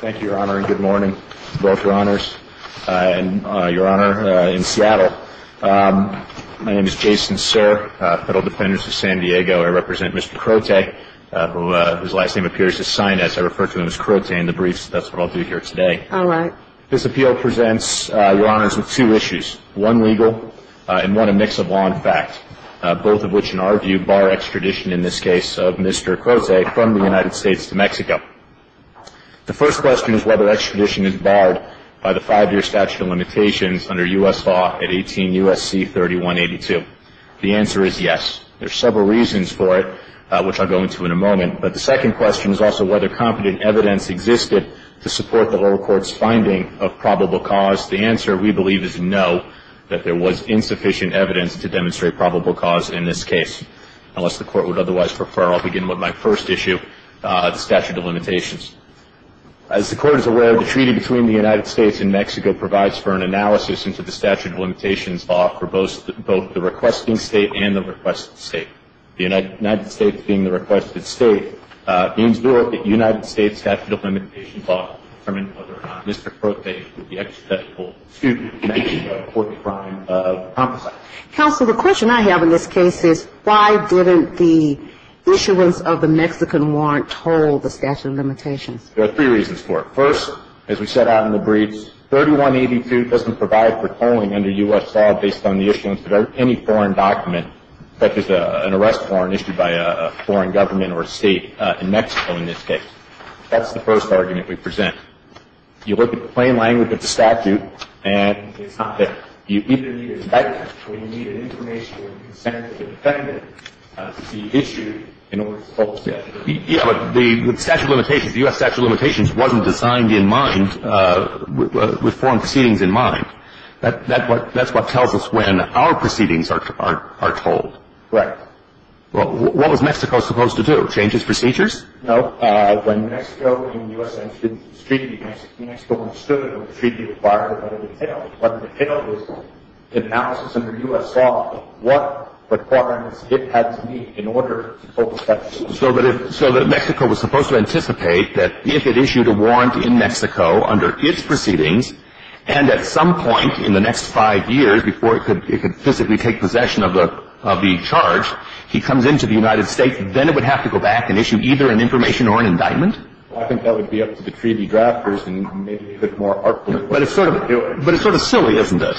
Thank you, Your Honor, and good morning to both Your Honors and Your Honor in Seattle. My name is Jason Sirr, Federal Defendant of San Diego. I represent Mr. Crote, whose last name appears as Sainez. I refer to him as Crote in the briefs. That's what I'll do here today. All right. This appeal presents Your Honors with two issues, one legal and one a mix of law and fact, both of which, in our view, bar extradition in this case of Mr. Crote from the United States to Mexico. The first question is whether extradition is barred by the five-year statute of limitations under U.S. law at 18 U.S.C. 3182. The answer is yes. There are several reasons for it, which I'll go into in a moment, but the second question is also whether competent evidence existed to support the lower court's finding of probable cause. The answer, we believe, is no, that there was insufficient evidence to demonstrate probable cause in this case. Unless the Court would otherwise prefer, I'll begin with my first issue, the statute of limitations. As the Court is aware, the treaty between the United States and Mexico provides for an analysis into the statute of limitations law for both the requesting state and the requested state. The United States being the requested state means that the United States statute of limitations law determines whether or not Mr. Crote would be acceptable to make a court-defined compensation. Counsel, the question I have in this case is why didn't the issuance of the Mexican warrant toll the statute of limitations? There are three reasons for it. First, as we set out in the brief, 3182 doesn't provide for tolling under U.S. law based on the issuance of any foreign document, such as an arrest warrant issued by a foreign government or a state, in Mexico in this case. That's the first argument we present. You look at the plain language of the statute and it's not there. You either need an indictment or you need an informational consent of the defendant to be issued in order to toll the statute. Yes, but the statute of limitations, the U.S. statute of limitations wasn't designed in mind, with foreign proceedings in mind. That's what tells us when our proceedings are tolled. Correct. Well, what was Mexico supposed to do, change its procedures? No. When Mexico in the U.S. entered into this treaty, Mexico understood that the treaty required a lot of detail. A lot of detail was analysis under U.S. law of what requirements it had to meet in order to toll the statute. So that Mexico was supposed to anticipate that if it issued a warrant in Mexico under its proceedings, and at some point in the next five years before it could physically take possession of the charge, he comes into the United States, then it would have to go back and issue either an information or an indictment? I think that would be up to the treaty drafters and maybe they could more artfully do it. But it's sort of silly, isn't it?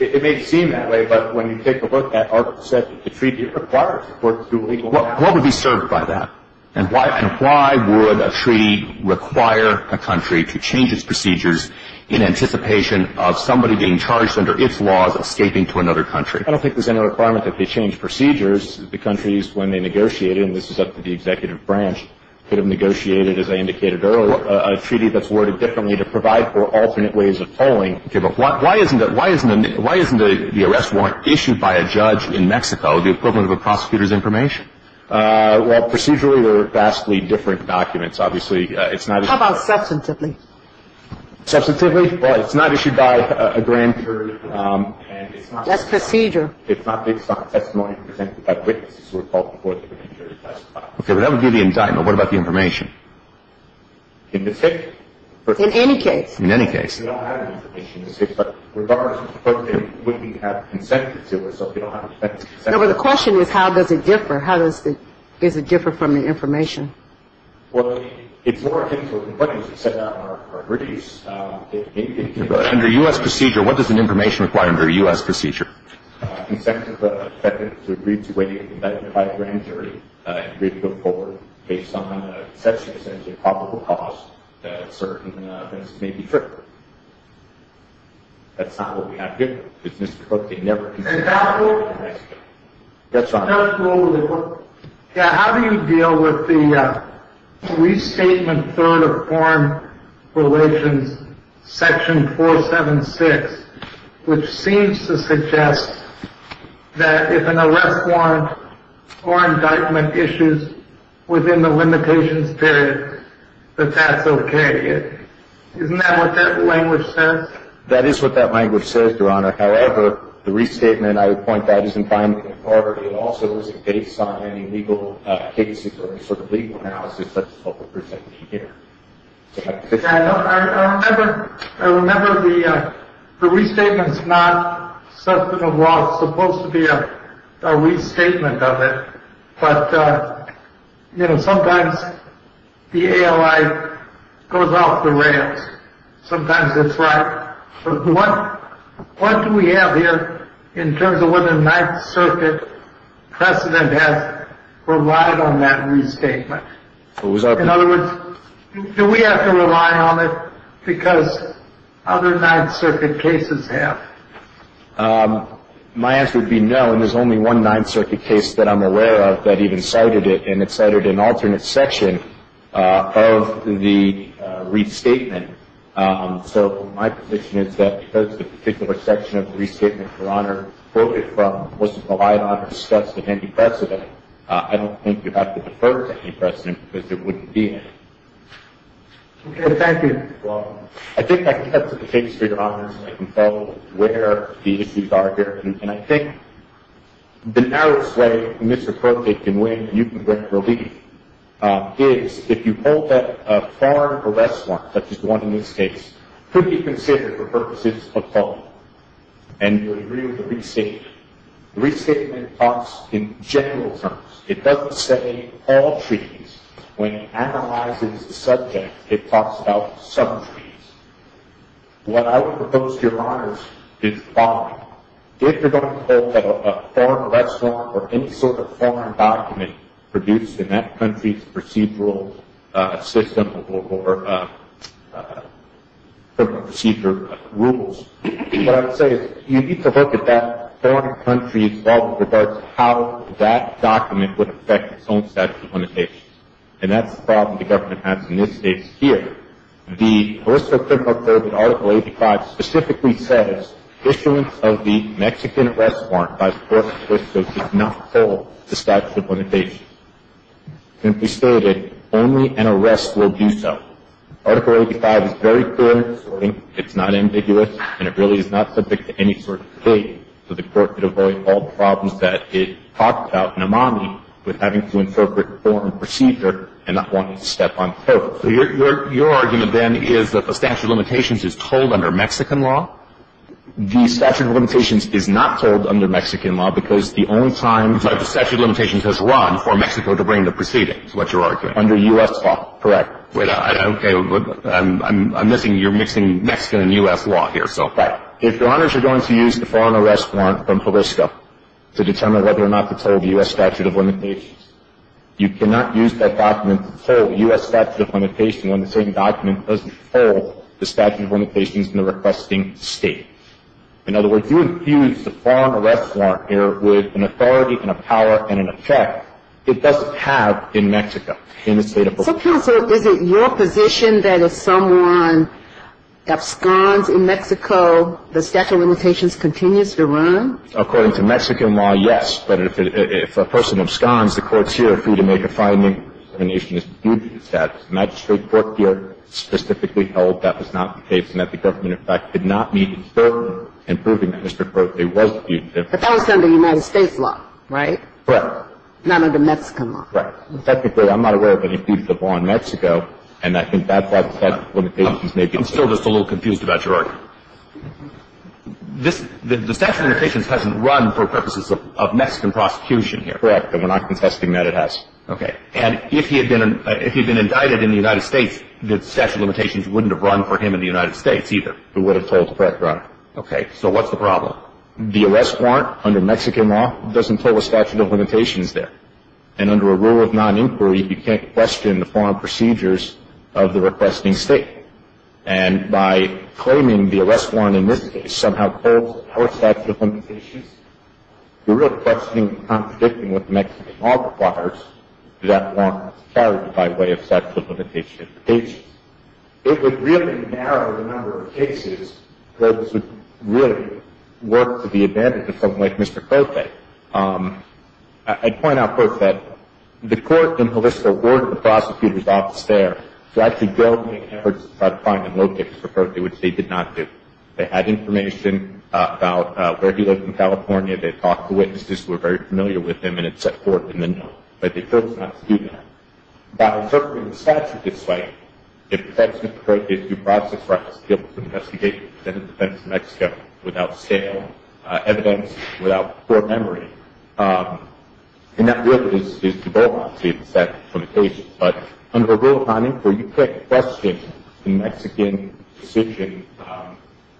It may seem that way, but when you take a look at what the treaty requires in order to do legal work. What would be served by that? And why would a treaty require a country to change its procedures in anticipation of somebody being charged under its laws escaping to another country? I don't think there's any requirement that they change procedures. The countries, when they negotiate it, and this is up to the executive branch, could have negotiated, as I indicated earlier, a treaty that's worded differently to provide for alternate ways of tolling. Okay. But why isn't the arrest warrant issued by a judge in Mexico the equivalent of a prosecutor's information? Well, procedurally, they're vastly different documents. Obviously, it's not as — How about substantively? Substantively? Well, it's not issued by a grand jury, and it's not — That's procedure. It's not testimony presented by witnesses who are called before the grand jury to testify. Okay. But that would be the indictment. What about the information? In this case? In any case. In any case. We don't have the information in this case, but regardless of the person, wouldn't he have consent to do it? So if you don't have consent — No, but the question is, how does it differ? How does it — does it differ from the information? Well, it's more akin to what you just said on our briefs. Under U.S. procedure, what does an information require under U.S. procedure? Consent of the defendant to agree to waiting for the indictment by a grand jury, and agree to go forward based on a conception, essentially, of probable cause that certain offenses may be triggered. That's not what we have here. It's Mr. Cook. They never — And that rule — That's right. That rule — Yeah, how do you deal with the restatement third of Foreign Relations Section 476, which seems to suggest that if an arrest warrant or indictment issues within the limitations period, that that's okay? Isn't that what that language says? That is what that language says, Your Honor. However, the restatement, I would point out, isn't binding authority. It also isn't based on any legal cases or any sort of legal analysis. That's what we're presenting here. I remember the restatement's not subject of law. It's supposed to be a restatement of it. But, you know, sometimes the ALI goes off the rails. Sometimes it's right. But what do we have here in terms of what the Ninth Circuit precedent has relied on that restatement? In other words, do we have to rely on it because other Ninth Circuit cases have? My answer would be no, and there's only one Ninth Circuit case that I'm aware of that even cited it, and it cited an alternate section of the restatement. So my position is that because the particular section of the restatement, Your Honor, quoted from wasn't relied on or discussed with any precedent, I don't think you have to defer to any precedent because it wouldn't be in it. Okay. Thank you, Your Honor. I think I can get to the case, Your Honor, so I can follow where the issues are here. And I think the narrowest way Mr. Korte can win, and you can bring relief, is if you hold that a foreign arrest warrant, such as the one in this case, could be considered for purposes of public, and you would agree with the restatement. The restatement talks in general terms. It doesn't say all treaties. When it analyzes the subject, it talks about some treaties. What I would propose to Your Honors is the following. If you're going to hold a foreign arrest warrant or any sort of foreign document produced in that country's procedural system or procedure rules, what I would say is you need to look at that foreign country's law with regards to how that document would affect its own statutory limitations. And that's the problem the government has in this case here. The Arr. 85 specifically says, issuance of the Mexican arrest warrant by the Court of Justice does not hold the statute of limitations. Simply stated, only an arrest will do so. Article 85 is very clear in its wording. It's not ambiguous, and it really is not subject to any sort of debate, so the Court could avoid all the problems that it talks about in Imani with having to interpret foreign procedure and not wanting to step on the toe. So your argument, then, is that the statute of limitations is told under Mexican law? The statute of limitations is not told under Mexican law because the only time the statute of limitations has run for Mexico to bring the proceedings, is what you're arguing. Under U.S. law, correct. Okay, I'm missing. You're mixing Mexican and U.S. law here, so. Right. If Your Honors are going to use the foreign arrest warrant from Jalisco to determine whether or not to tell the U.S. statute of limitations, you cannot use that document to tell the U.S. statute of limitations when the same document doesn't tell the statute of limitations in the requesting State. In other words, you infuse the foreign arrest warrant here with an authority and a power and an effect it doesn't have in Mexico in the State of Mexico. So counsel, is it your position that if someone absconds in Mexico, the statute of limitations continues to run? According to Mexican law, yes. But if a person absconds, the courts here are free to make a finding that the nation is due to the statute. The magistrate court here specifically held that was not the case and that the government, in fact, did not meet its burden in proving that Mr. Corte was due to the statute. But that was under United States law, right? Correct. Not under Mexican law. Right. In fact, I'm not aware of any case of law in Mexico, and I think that's why the statute of limitations may be. I'm still just a little confused about your argument. The statute of limitations hasn't run for purposes of Mexican prosecution here. Correct. And we're not contesting that it has. Okay. And if he had been indicted in the United States, the statute of limitations wouldn't have run for him in the United States either. It would have told the court to run. Okay. So what's the problem? The arrest warrant under Mexican law doesn't tell the statute of limitations there. And under a rule of noninquiry, you can't question the foreign procedures of the requesting State. And by claiming the arrest warrant in this case somehow holds our statute of limitations, you're really questioning and contradicting what the Mexican law requires. Does that warrant clarity by way of statute of limitations? It would really narrow the number of cases that would really work to the advantage of something like Mr. Corte. I'd point out, first, that the court in Jalisco ordered the prosecutor's office there to actually go and make efforts to try to find and locate Mr. Corte, which they did not do. They had information about where he lived in California. They talked to witnesses who were very familiar with him, and it's set forth in the note. But the court's not to do that. By referring the statute this way, it protects Mr. Corte's due process rights to be able to investigate and present a defense in Mexico without scale, evidence, without court memory. And that really is too bold, obviously, to set limitations. But under a rule of non-inquiry, you question the Mexican decision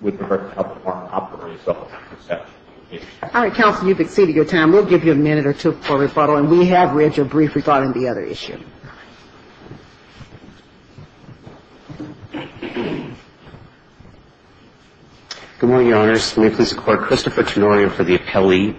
with regard to how the warrant operates without the statute of limitations. All right, counsel, you've exceeded your time. We'll give you a minute or two for rebuttal. And we have read your brief rebuttal on the other issue. All right. Good morning, Your Honors. May it please the Court. Christopher Tenorio for the appellee.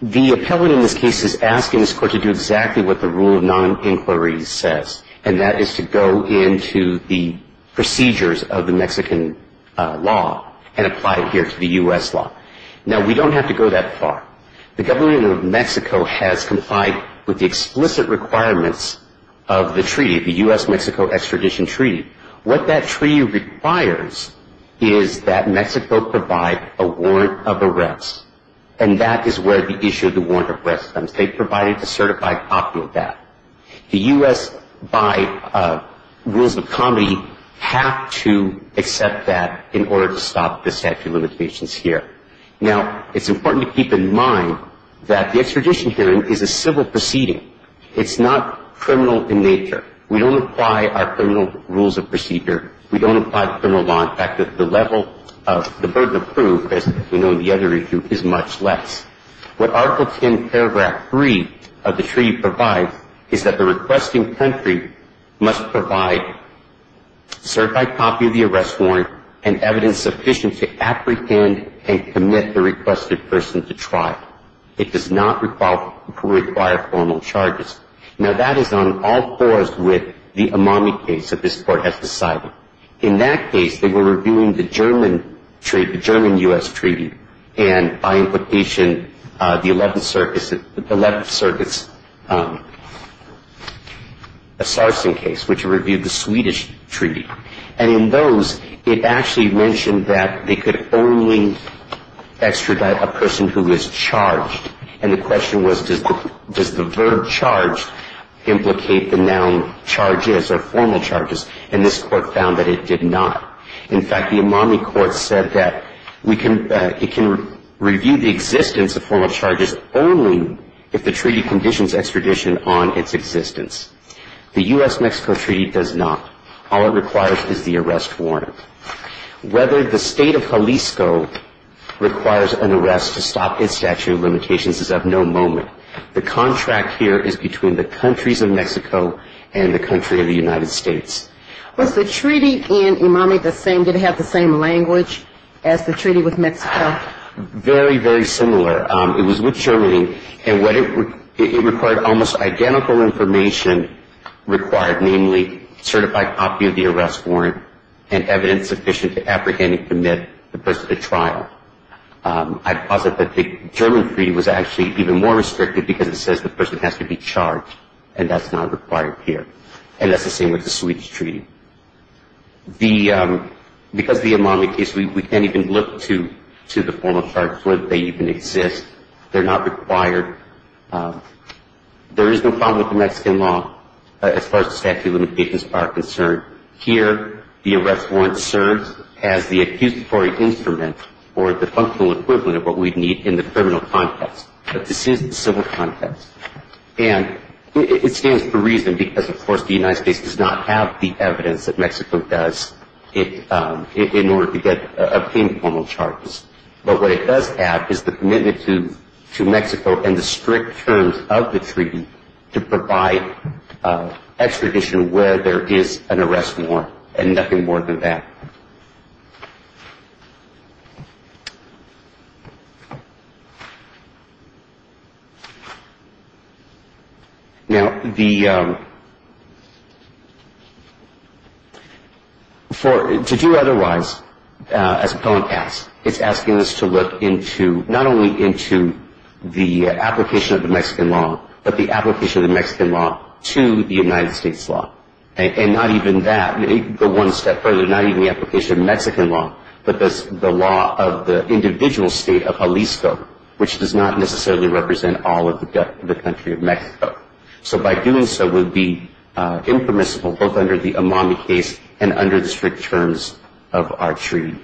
The appellate in this case is asking this Court to do exactly what the rule of non-inquiry says, and that is to go into the procedures of the Mexican law and apply it here to the U.S. law. Now, we don't have to go that far. The government of Mexico has complied with the explicit requirements of the treaty, the U.S.-Mexico Extradition Treaty. What that treaty requires is that Mexico provide a warrant of arrest, and that is where the issue of the warrant of arrest comes. They provide it to certify popular doubt. The U.S., by rules of comedy, have to accept that in order to stop the statute of limitations here. Now, it's important to keep in mind that the extradition hearing is a civil proceeding. It's not criminal in nature. We don't apply our criminal rules of procedure. We don't apply the criminal law. In fact, the level of the burden of proof, as we know in the other issue, is much less. What Article 10, Paragraph 3 of the treaty provides is that the requesting country must provide certified copy of the arrest warrant and evidence sufficient to apprehend and commit the requested person to trial. It does not require formal charges. Now, that is on all fours with the Amami case that this Court has decided. In that case, they were reviewing the German treaty, the German-U.S. treaty, and by implication the Eleventh Circuit's Sarsen case, which reviewed the Swedish treaty. And in those, it actually mentioned that they could only extradite a person who is charged. And the question was, does the verb charged implicate the noun charges or formal charges? And this Court found that it did not. In fact, the Amami court said that it can review the existence of formal charges only if the treaty conditions extradition on its existence. The U.S.-Mexico treaty does not. All it requires is the arrest warrant. Whether the state of Jalisco requires an arrest to stop its statute of limitations is of no moment. The contract here is between the countries of Mexico and the country of the United States. Was the treaty in Amami the same? Did it have the same language as the treaty with Mexico? Very, very similar. It was with Germany, and it required almost identical information required, namely a certified copy of the arrest warrant and evidence sufficient to apprehend and commit the person to trial. I'd posit that the German treaty was actually even more restrictive because it says the person has to be charged, and that's not required here. And that's the same with the Swedish treaty. Because of the Amami case, we can't even look to the formal charges where they even exist. They're not required. There is no problem with the Mexican law as far as the statute of limitations are concerned. Here, the arrest warrant serves as the accusatory instrument or the functional equivalent of what we'd need in the criminal context. But this is the civil context. And it stands for a reason because, of course, the United States does not have the evidence that Mexico does in order to obtain formal charges. But what it does have is the commitment to Mexico and the strict terms of the treaty to provide extradition where there is an arrest warrant, and nothing more than that. Now, to do otherwise, it's asking us to look not only into the application of the Mexican law, but the application of the Mexican law to the United States law. And not even that. Go one step further. Not even the application of Mexican law, but the law of the individual state of Jalisco, which does not necessarily represent all of the country of Mexico. So by doing so, we'd be impermissible both under the Amami case and under the strict terms of our treaty.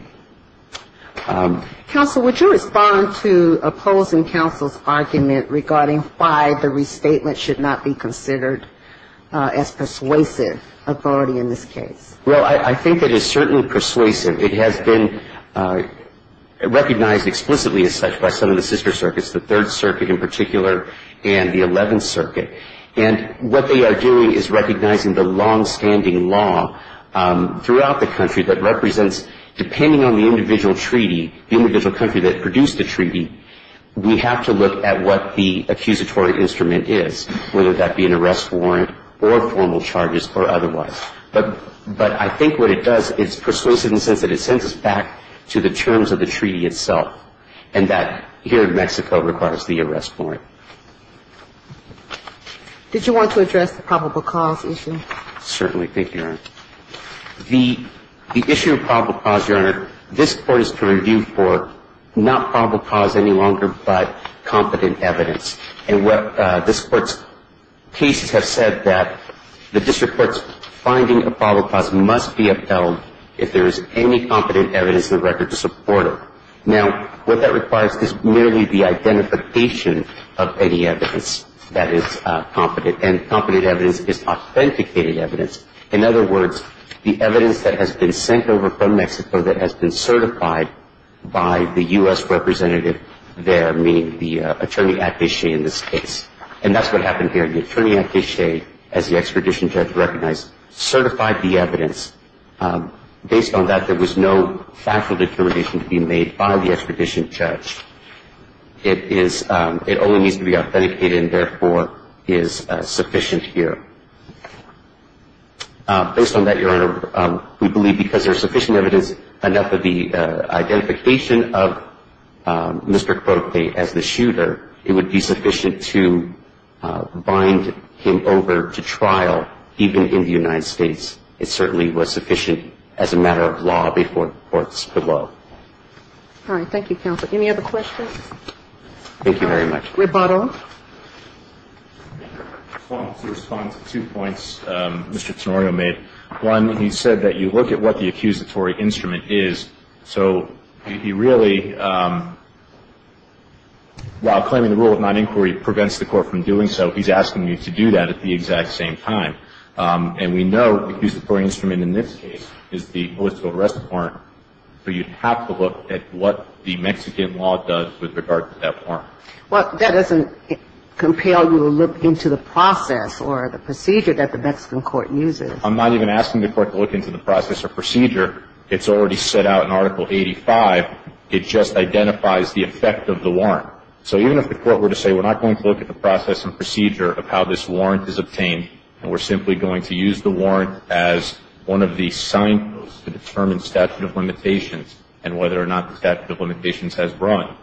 Counsel, would you respond to opposing counsel's argument regarding why the restatement should not be considered as persuasive authority in this case? Well, I think it is certainly persuasive. It has been recognized explicitly as such by some of the sister circuits, the Third Circuit in particular and the Eleventh Circuit. And what they are doing is recognizing the longstanding law throughout the country that represents, depending on the individual treaty, the individual country that produced the treaty, we have to look at what the accusatory instrument is, whether that be an arrest warrant or formal charges or otherwise. But I think what it does is persuasive in the sense that it sends us back to the terms of the treaty itself and that here in Mexico requires the arrest warrant. Did you want to address the probable cause issue? Certainly. Thank you, Your Honor. The issue of probable cause, Your Honor, this Court is to review for not probable cause any longer, but competent evidence. And this Court's cases have said that the district court's finding of probable cause must be upheld if there is any competent evidence in the record to support it. Now, what that requires is merely the identification of any evidence that is competent, and competent evidence is authenticated evidence. In other words, the evidence that has been sent over from Mexico that has been certified by the U.S. representative there, meaning the attorney attache in this case. And that's what happened here. The attorney attache, as the Expedition Church recognized, certified the evidence. Based on that, there was no factual determination to be made by the Expedition Church. It only needs to be authenticated and, therefore, is sufficient here. Based on that, Your Honor, we believe because there is sufficient evidence, because there is enough of the identification of Mr. Cuote as the shooter, it would be sufficient to bind him over to trial, even in the United States. It certainly was sufficient as a matter of law before the courts below. All right. Thank you, counsel. Any other questions? Thank you very much. We're bought off. To respond to two points Mr. Tonorio made, one, he said that you look at what the accusatory instrument is. So he really, while claiming the rule of non-inquiry prevents the court from doing so, he's asking you to do that at the exact same time. And we know the accusatory instrument in this case is the political arrest warrant, so you have to look at what the Mexican law does with regard to that warrant. Well, that doesn't compel you to look into the process or the procedure that the Mexican court uses. I'm not even asking the court to look into the process or procedure. It's already set out in Article 85. It just identifies the effect of the warrant. So even if the court were to say we're not going to look at the process and procedure of how this warrant is obtained and we're simply going to use the warrant as one of the signposts to determine statute of limitations and whether or not the statute of limitations has run.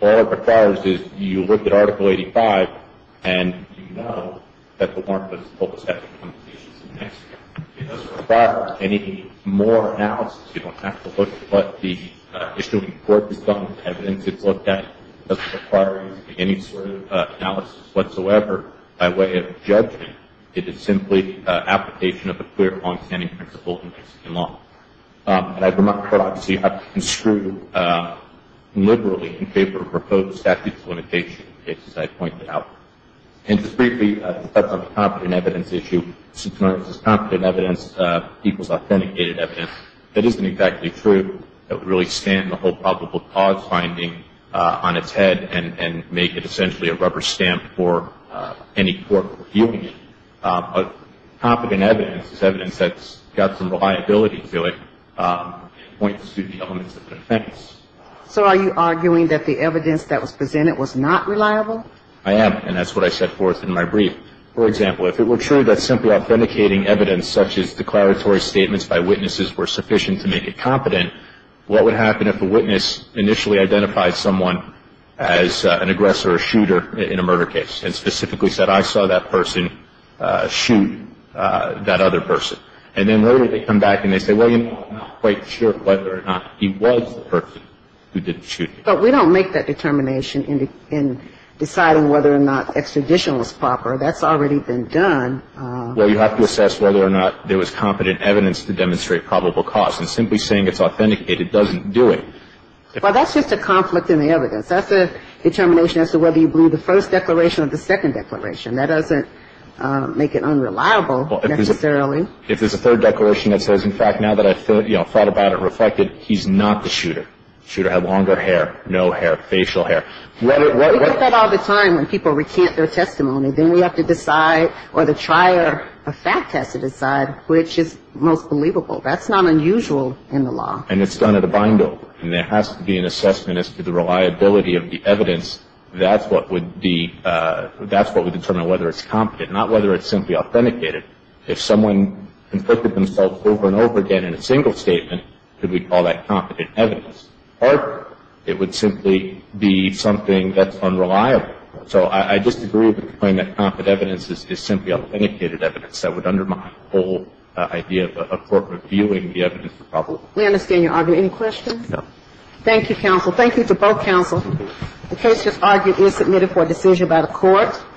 All it requires is you look at Article 85 and you know that the warrant was pulled to statute of limitations in Mexico. It doesn't require any more analysis. You don't have to look at what the issuing court has done, the evidence it's looked at. It doesn't require any sort of analysis whatsoever by way of judgment. It is simply application of a clear, long-standing principle in Mexican law. And I've remarked here, obviously, I've been screwed liberally in favor of proposed statute of limitations, as I've pointed out. And just briefly, that's on the competent evidence issue. It's known as competent evidence equals authenticated evidence. That isn't exactly true. It would really stand the whole probable cause finding on its head and make it essentially a rubber stamp for any court reviewing it. Competent evidence is evidence that's got some reliability to it and points to the elements of an offense. So are you arguing that the evidence that was presented was not reliable? I am, and that's what I set forth in my brief. For example, if it were true that simply authenticating evidence, such as declaratory statements by witnesses, were sufficient to make it competent, what would happen if a witness initially identified someone as an aggressor or shooter in a murder case and specifically said, I saw that person shoot that other person? And then later they come back and they say, well, you know, I'm not quite sure whether or not he was the person who did the shooting. But we don't make that determination in deciding whether or not extradition was proper. That's already been done. Well, you have to assess whether or not there was competent evidence to demonstrate probable cause. And simply saying it's authenticated doesn't do it. Well, that's just a conflict in the evidence. That's a determination as to whether you blew the first declaration or the second declaration. That doesn't make it unreliable necessarily. If there's a third declaration that says, in fact, now that I've thought about it, reflected, he's not the shooter. Shooter had longer hair, no hair, facial hair. We get that all the time when people recant their testimony. Then we have to decide or the trier of fact has to decide which is most believable. That's not unusual in the law. And it's done at a bindle. And there has to be an assessment as to the reliability of the evidence. That's what would determine whether it's competent, not whether it's simply authenticated. If someone conflicted themselves over and over again in a single statement, could we call that competent evidence? Or it would simply be something that's unreliable. So I just agree with the point that competent evidence is simply authenticated evidence. That would undermine the whole idea of a court reviewing the evidence. We understand your argument. Any questions? Thank you, counsel. Thank you to both counsel. The case just argued is submitted for decision by the court.